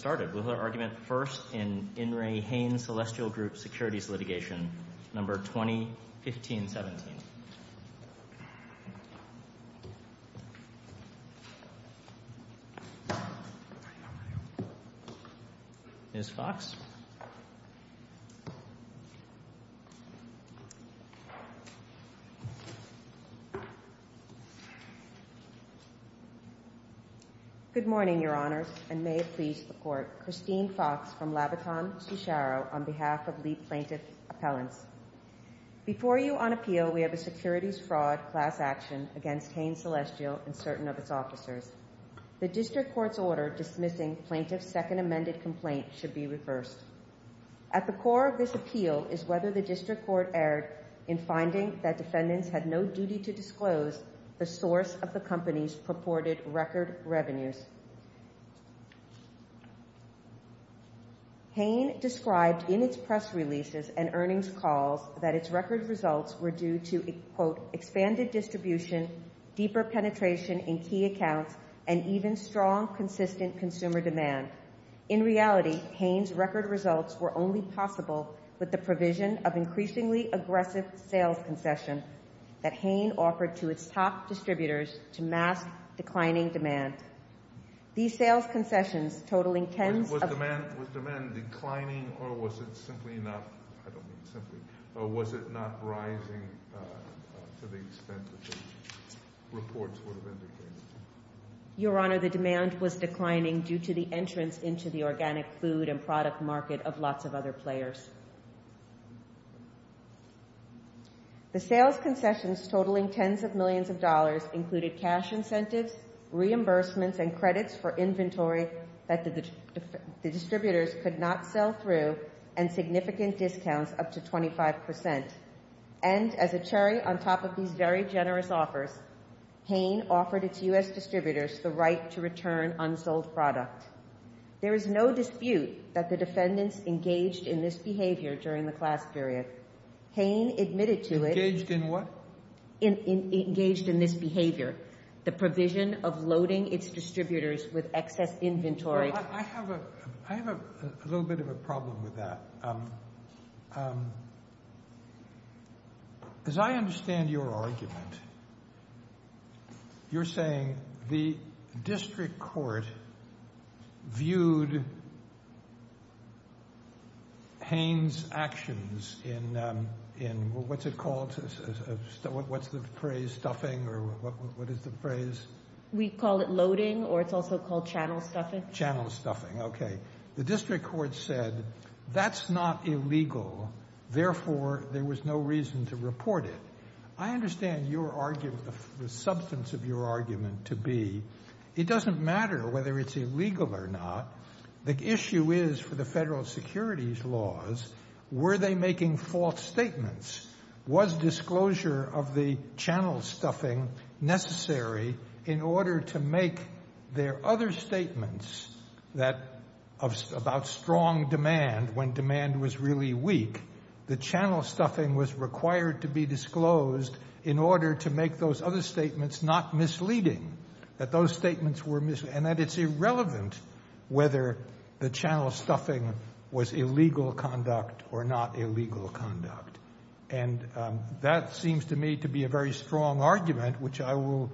Let's get started with our argument first in In re Hain Celestial Group Securities Litigation Number 20-15-17. Ms. Fox? Good morning, Your Honors, and may it please the Court, Christine Fox from Labaton, Cicero, on behalf of the plaintiff's appellants. Before you on appeal, we have a securities fraud class action against Hain Celestial and certain of its officers. The district court's order dismissing plaintiff's second amended complaint should be reversed. At the core of this appeal is whether the district court erred in finding that defendants had no duty to disclose the source of the company's purported record revenues. Hain described in its press releases and earnings calls that its record results were due to the, quote, expanded distribution, deeper penetration in key accounts, and even strong consistent consumer demand. In reality, Hain's record results were only possible with the provision of increasingly aggressive sales concessions that Hain offered to its top distributors to mask declining demand. These sales concessions totaling tens of— Was demand declining or was it simply not—I don't mean simply—or was it not rising to the extent that the reports would have indicated? Your Honor, the demand was declining due to the entrance into the organic food and product market of lots of other players. The sales concessions totaling tens of millions of dollars included cash incentives, reimbursements, and credits for inventory that the distributors could not sell through, and significant discounts up to 25 percent. And as a cherry on top of these very generous offers, Hain offered its U.S. distributors the right to return unsold product. There is no dispute that the defendants engaged in this behavior during the class period. Hain admitted to it— Engaged in what? Engaged in this behavior, the provision of loading its distributors with excess inventory. I have a little bit of a problem with that. As I understand your argument, you're saying the district court viewed Hain's actions in—what's it called—what's the phrase—stuffing, or what is the phrase? We call it loading, or it's also called channel stuffing. Channel stuffing, okay. The district court said that's not illegal, therefore there was no reason to report it. I understand your argument, the substance of your argument to be it doesn't matter whether it's illegal or not. The issue is for the federal securities laws, were they making false statements? Was disclosure of the channel stuffing necessary in order to make their other statements about strong demand, when demand was really weak, the channel stuffing was required to be disclosed in order to make those other statements not misleading? That those statements were misleading, and that it's irrelevant whether the channel stuffing was illegal conduct or not illegal conduct. And that seems to me to be a very strong argument, which I will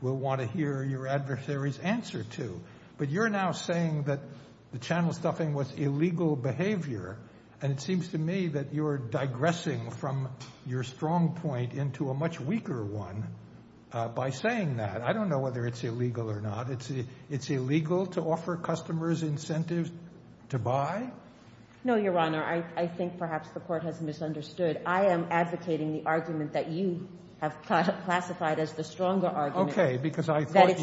want to hear your adversary's answer to. But you're now saying that the channel stuffing was illegal behavior, and it seems to me that you're digressing from your strong point into a much weaker one by saying that. I don't know whether it's illegal or not. It's illegal to offer customers incentives to buy? No, Your Honor. I think perhaps the court has misunderstood. I am advocating the argument that you have classified as the stronger argument. Okay, because I thought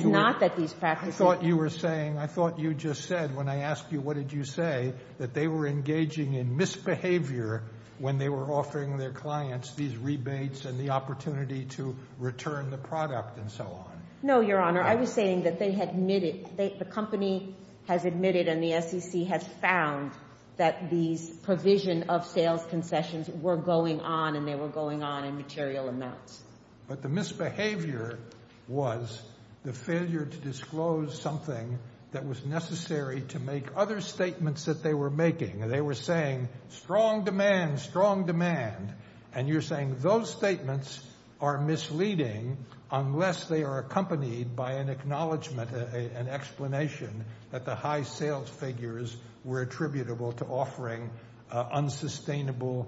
you were saying, I thought you just said when I asked you what did you say, that they were engaging in misbehavior when they were offering their clients these rebates and the opportunity to return the product and so on. No, Your Honor. I was saying that they had admitted, the company has admitted and the SEC has found that these provision of sales concessions were going on and they were going on in material amounts. But the misbehavior was the failure to disclose something that was necessary to make other statements that they were making. They were saying strong demand, strong demand. And you're saying those statements are misleading unless they are accompanied by an acknowledgment, an explanation that the high sales figures were attributable to offering unsustainable,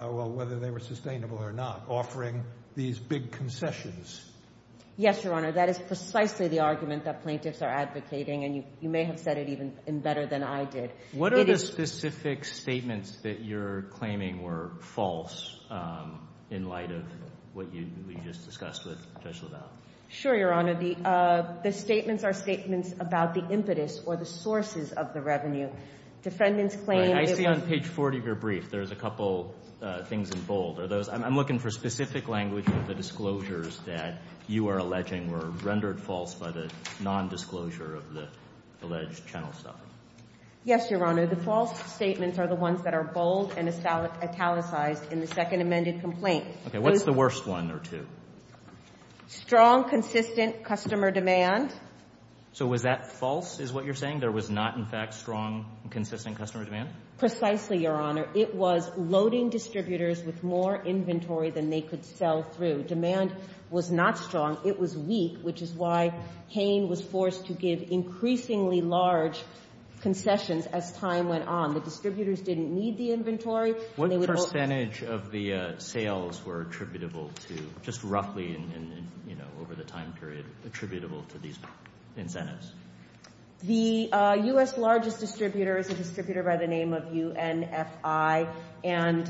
well whether they were sustainable or not, offering these big concessions. Yes, Your Honor. That is precisely the argument that plaintiffs are advocating and you may have said it even better than I did. What are the specific statements that you're claiming were false in light of what you just discussed with Judge LaValle? Sure, Your Honor. The statements are statements about the impetus or the sources of the revenue. Defendants claim... I see on page 40 of your brief there's a couple things in bold. I'm looking for specific language of the disclosures that you are alleging were rendered false by the nondisclosure of the alleged channel stuffing. Yes, Your Honor. The false statements are the ones that are bold and italicized in the second amended complaint. Okay. What's the worst one or two? Strong, consistent customer demand. So was that false is what you're saying? There was not, in fact, strong, consistent customer demand? Precisely, Your Honor. It was loading distributors with more inventory than they could sell through. Demand was not strong. It was weak, which is why Hain was forced to give increasingly large concessions as time went on. The distributors didn't need the inventory. What percentage of the sales were attributable to, just roughly over the time period, attributable to these incentives? The U.S. largest distributor is a distributor by the name of UNFI, and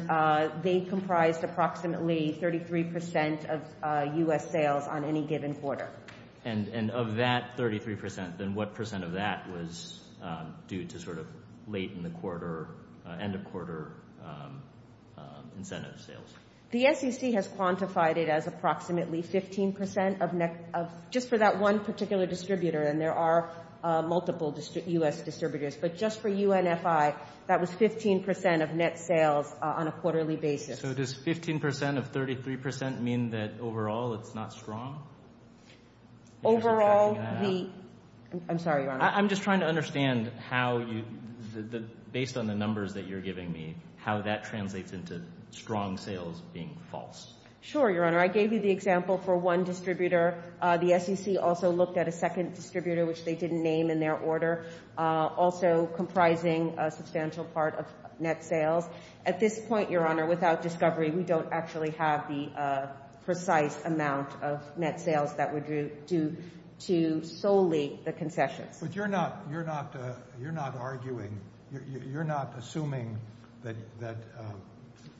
they comprised approximately 33% of U.S. sales on any given quarter. And of that 33%, then what percent of that was due to sort of late in the quarter, end of quarter incentive sales? The SEC has quantified it as approximately 15% of just for that one particular distributor, and there are multiple U.S. distributors, but just for UNFI, that was 15% of net sales on a quarterly basis. Okay. So does 15% of 33% mean that overall it's not strong? Overall the... I'm sorry, Your Honor. I'm just trying to understand how, based on the numbers that you're giving me, how that translates into strong sales being false. Sure, Your Honor. I gave you the example for one distributor. The SEC also looked at a second distributor, which they didn't name in their order, also comprising a substantial part of net sales. At this point, Your Honor, without discovery, we don't actually have the precise amount of net sales that were due to solely the concessions. But you're not arguing, you're not assuming that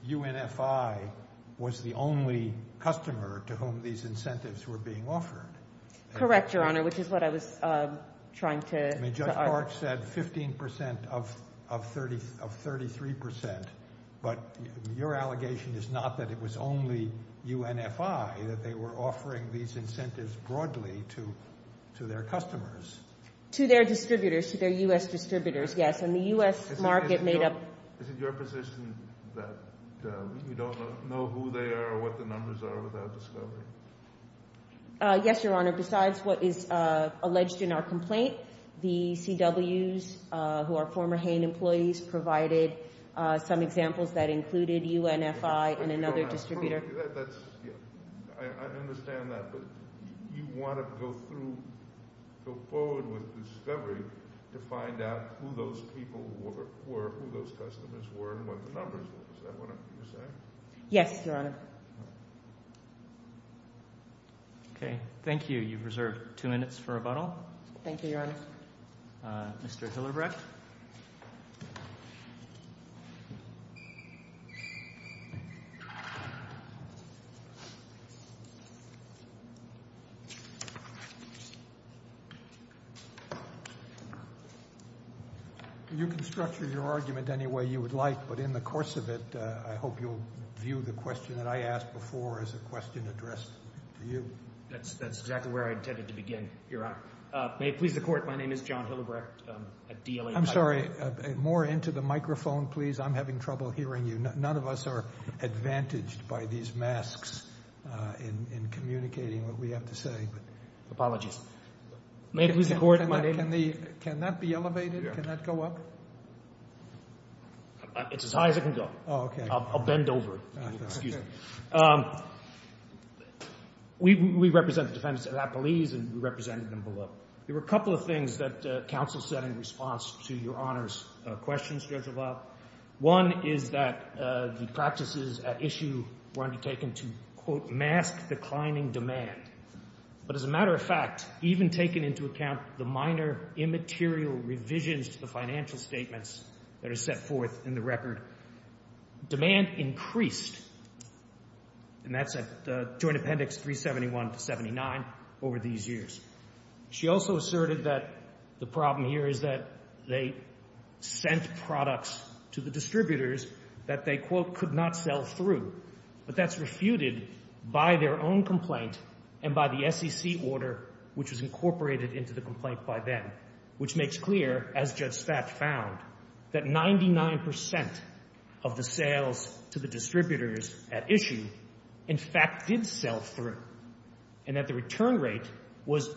UNFI was the only customer to whom these incentives were being offered. Correct, Your Honor, which is what I was trying to... I mean, Judge Clark said 15% of 33%, but your allegation is not that it was only UNFI that they were offering these incentives broadly to their customers. To their distributors, to their U.S. distributors, yes, and the U.S. market made up... Is it your position that you don't know who they are or what the numbers are without discovery? Yes, Your Honor. Besides what is alleged in our complaint, the CWs, who are former HANE employees, provided some examples that included UNFI and another distributor. I understand that, but you want to go forward with discovery to find out who those people were, who those customers were, and what the numbers were. Is that what you're saying? Yes, Your Honor. Okay, thank you. You've reserved two minutes for rebuttal. Thank you, Your Honor. Mr. Hillerbrecht. You can structure your argument any way you would like, but in the course of it, I hope you'll view the question that I asked before as a question addressed to you. That's exactly where I intended to begin, Your Honor. May it please the Court, my name is John Hillerbrecht. I'm sorry, more into the microphone, please. I'm having trouble hearing you. None of us are advantaged by these masks in communicating what we have to say. Apologies. May it please the Court, my name is... Can that be elevated? Can that go up? It's as high as it can go. Oh, okay. I'll bend over. Excuse me. We represent the defendants of Appalese, and we represented them below. There were a couple of things that counsel said in response to Your Honor's questions, Judge LaValle. One is that the practices at issue were undertaken to, quote, mask declining demand. But as a matter of fact, even taking into account the minor immaterial revisions to the financial statements that are set forth in the record, demand increased, and that's at Joint Appendix 371 to 79, over these years. She also asserted that the problem here is that they sent products to the distributors that they, quote, could not sell through, but that's refuted by their own complaint and by the SEC order, which was incorporated into the complaint by then, which makes clear, as Judge Stach found, that 99% of the sales to the distributors at issue, in fact, did sell through, and that the return rate was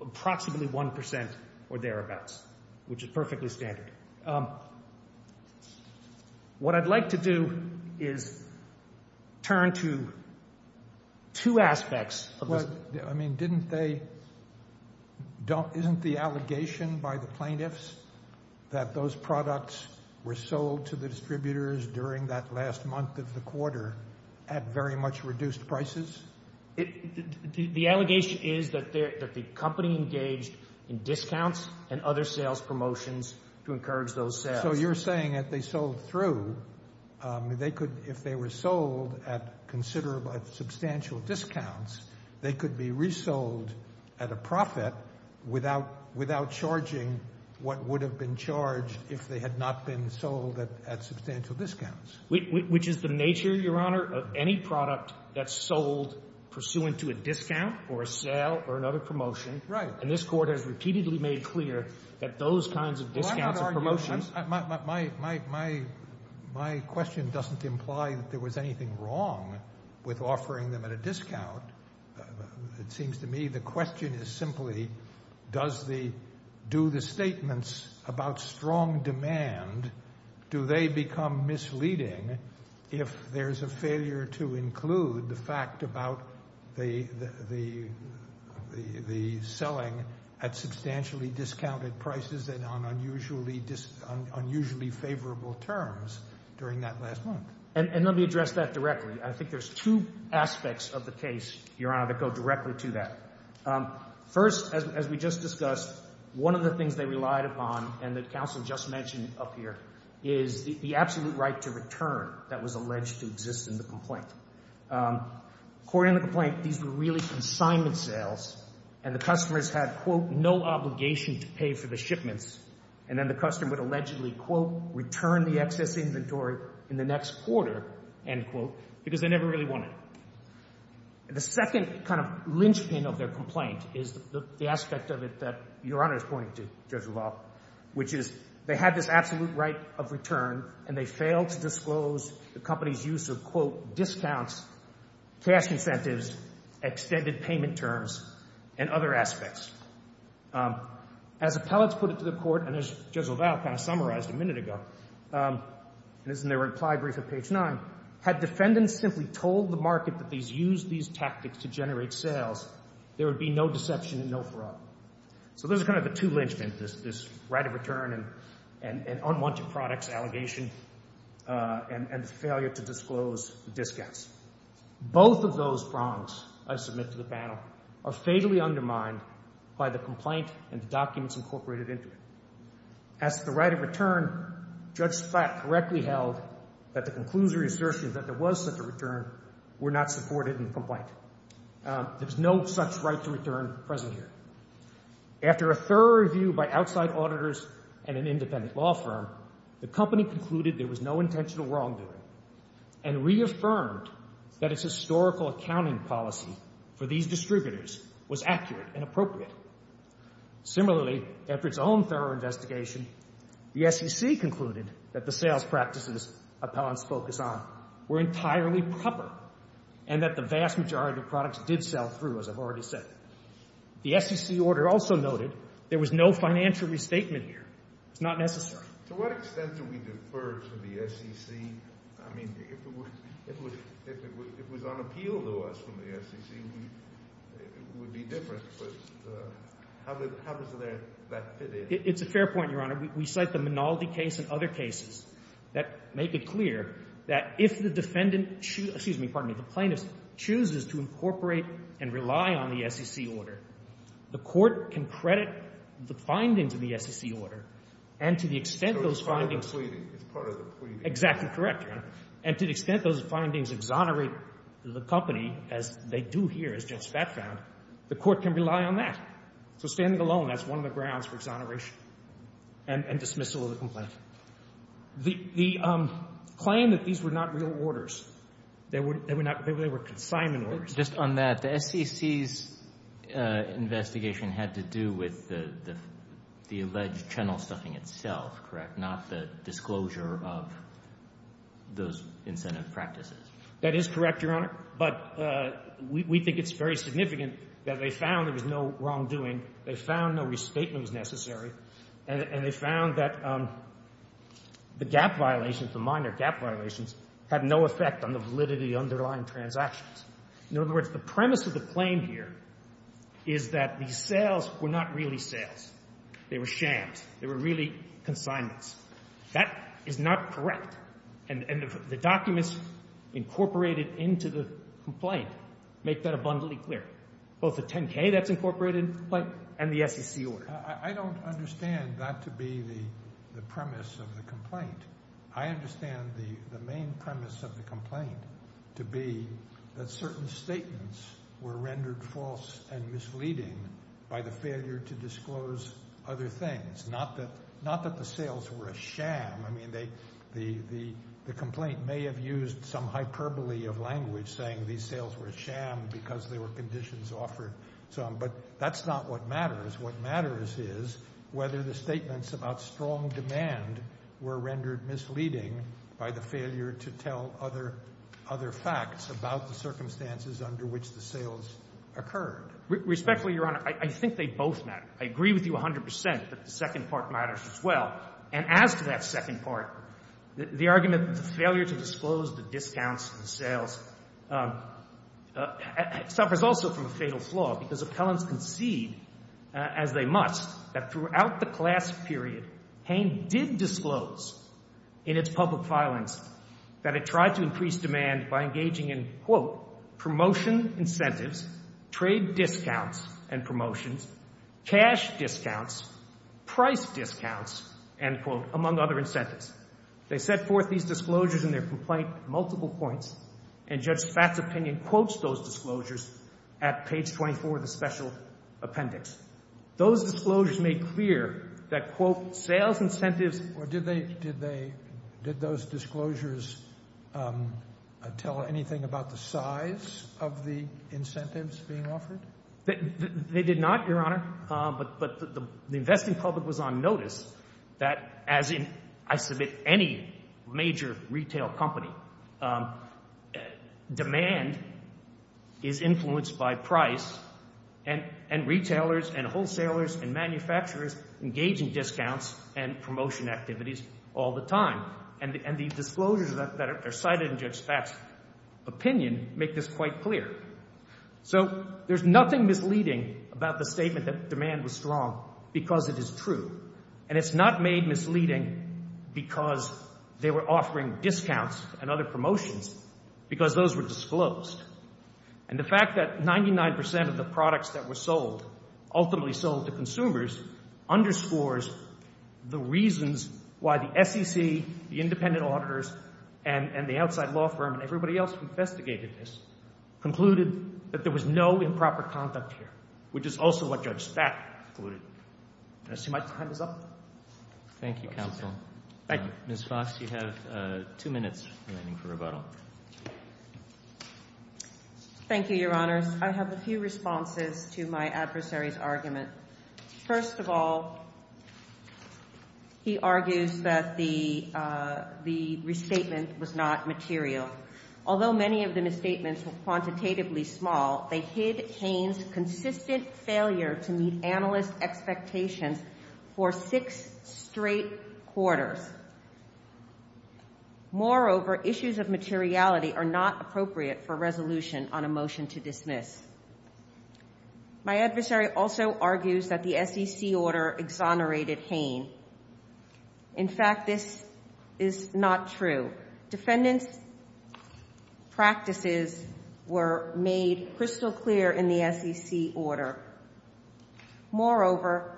approximately 1% or thereabouts, which is perfectly standard. What I'd like to do is turn to two aspects of this. I mean, isn't the allegation by the plaintiffs that those products were sold to the distributors during that last month of the quarter at very much reduced prices? The allegation is that the company engaged in discounts and other sales promotions to encourage those sales. So you're saying that they sold through. If they were sold at considerable substantial discounts, they could be resold at a profit without charging what would have been charged if they had not been sold at substantial discounts. Which is the nature, Your Honor, of any product that's sold pursuant to a discount or a sale or another promotion. Right. And this Court has repeatedly made clear that those kinds of discounts and promotions My question doesn't imply that there was anything wrong with offering them at a discount. It seems to me the question is simply, do the statements about strong demand, do they become misleading if there's a failure to include the fact about the selling at substantially discounted prices and on unusually favorable terms during that last month? And let me address that directly. I think there's two aspects of the case, Your Honor, that go directly to that. First, as we just discussed, one of the things they relied upon and that counsel just mentioned up here is the absolute right to return that was alleged to exist in the complaint. According to the complaint, these were really consignment sales and the customers had, quote, no obligation to pay for the shipments. And then the customer would allegedly, quote, return the excess inventory in the next quarter, end quote, because they never really wanted it. The second kind of linchpin of their complaint is the aspect of it that Your Honor is pointing to, Judge Revolf, which is they had this absolute right of return and they failed to disclose the company's use of, quote, discounts, cash incentives, extended payment terms, and other aspects. As appellants put it to the court, and as Judge LaValle kind of summarized a minute ago, and this is in their reply brief at page 9, had defendants simply told the market that they used these tactics to generate sales, there would be no deception and no fraud. So those are kind of the two linchpins, this right of return and unwanted products allegation and the failure to disclose the discounts. Both of those wrongs I submit to the panel are fatally undermined by the complaint and the documents incorporated into it. As to the right of return, Judge Splatt correctly held that the conclusory assertion that there was such a return were not supported in the complaint. There's no such right to return present here. After a thorough review by outside auditors and an independent law firm, the company concluded there was no intentional wrongdoing and reaffirmed that its historical accounting policy for these distributors was accurate and appropriate. Similarly, after its own thorough investigation, the SEC concluded that the sales practices appellants focus on were entirely proper and that the vast majority of products did sell through, as I've already said. The SEC order also noted there was no financial restatement here. It's not necessary. To what extent do we defer to the SEC? I mean, if it was unappealed to us from the SEC, it would be different. But how does that fit in? It's a fair point, Your Honor. We cite the Minaldi case and other cases that make it clear that if the defendant chooses to incorporate and rely on the SEC order, the court can credit the findings of the SEC order and to the extent those findings So it's part of the pleading. It's part of the pleading. Exactly correct, Your Honor. And to the extent those findings exonerate the company, as they do here, as Jeff Spatz found, the court can rely on that. So standing alone, that's one of the grounds for exoneration and dismissal of the complaint. The claim that these were not real orders, they were not real orders, they were consignment orders. Just on that, the SEC's investigation had to do with the alleged channel stuffing itself, correct? Not the disclosure of those incentive practices. That is correct, Your Honor. But we think it's very significant that they found there was no wrongdoing. They found no restatement was necessary. And they found that the gap violations, the minor gap violations, had no effect on the validity of the underlying transactions. In other words, the premise of the claim here is that the sales were not really sales. They were shams. They were really consignments. That is not correct. And the documents incorporated into the complaint make that abundantly clear. Both the 10K that's incorporated in the complaint and the SEC order. I don't understand that to be the premise of the complaint. I understand the main premise of the complaint to be that certain statements were rendered false and misleading by the failure to disclose other things. Not that the sales were a sham. I mean, the complaint may have used some hyperbole of language saying these sales were a sham because there were conditions offered. But that's not what matters. What matters is whether the statements about strong demand were rendered misleading by the failure to tell other facts about the circumstances under which the sales occurred. Respectfully, Your Honor, I think they both matter. I agree with you 100 percent that the second part matters as well. And as to that second part, the argument that the failure to disclose the discounts and sales suffers also from a fatal flaw because appellants concede, as they must, that throughout the class period, Hain did disclose in its public filings that it tried to increase demand by engaging in, quote, promotion incentives, trade discounts and promotions, cash discounts, price discounts, end quote, among other incentives. They set forth these disclosures in their complaint at multiple points, and Judge Spatz's opinion quotes those disclosures at page 24 of the special appendix. Those disclosures made clear that, quote, sales incentives Or did they, did they, did those disclosures tell anything about the size of the incentives being offered? They did not, Your Honor. But the investing public was on notice that, as in, I submit, any major retail company, demand is influenced by price, and retailers and wholesalers and manufacturers engage in discounts and promotion activities all the time. And the disclosures that are cited in Judge Spatz's opinion make this quite clear. So there's nothing misleading about the statement that demand was strong because it is true. And it's not made misleading because they were offering discounts and other promotions because those were disclosed. And the fact that 99 percent of the products that were sold, ultimately sold to consumers, underscores the reasons why the SEC, the independent auditors, and the outside law firm and everybody else who investigated this, concluded that there was no improper conduct here, which is also what Judge Spatz concluded. And I see my time is up. Thank you, counsel. Thank you. Ms. Fox, you have two minutes remaining for rebuttal. Thank you, Your Honors. I have a few responses to my adversary's argument. First of all, he argues that the restatement was not material. Although many of the misstatements were quantitatively small, they hid Haines' consistent failure to meet analyst expectations for six straight quarters. Moreover, issues of materiality are not appropriate for resolution on a motion to dismiss. My adversary also argues that the SEC order exonerated Haines. In fact, this is not true. Defendant's practices were made crystal clear in the SEC order. Moreover,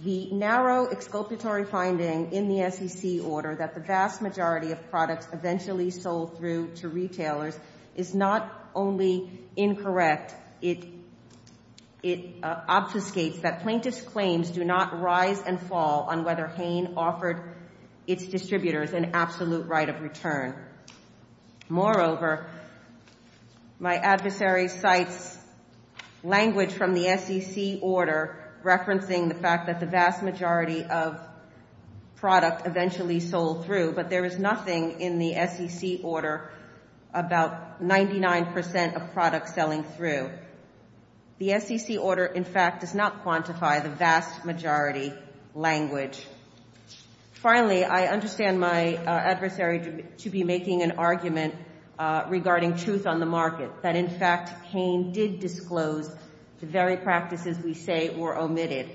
the narrow exculpatory finding in the SEC order that the vast majority of products eventually sold through to retailers is not only incorrect, it obfuscates that plaintiff's claims do not rise and fall on whether Haines offered its distributors an absolute right of return. Moreover, my adversary cites language from the SEC order referencing the fact that the vast majority of product eventually sold through, but there is nothing in the SEC order about 99% of products selling through. The SEC order, in fact, does not quantify the vast majority language. Finally, I understand my adversary to be making an argument regarding truth on the market, that, in fact, Haines did disclose the very practices we say were omitted.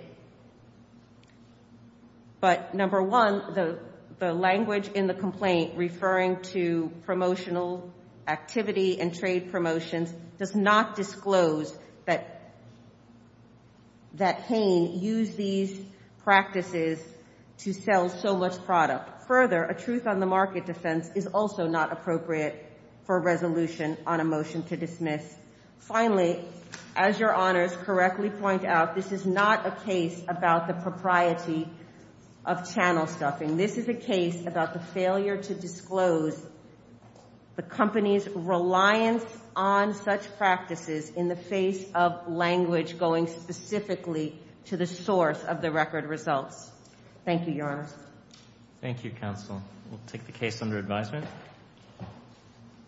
But, number one, the language in the complaint referring to promotional activity and trade promotions does not disclose that Haines used these practices to sell so much product. Further, a truth on the market defense is also not appropriate for resolution on a motion to dismiss. Finally, as Your Honors correctly point out, this is not a case about the propriety of channel stuffing. This is a case about the failure to disclose the company's reliance on such practices in the face of language going specifically to the source of the record results. Thank you, Your Honors. Thank you, Counsel. We'll take the case under advisement.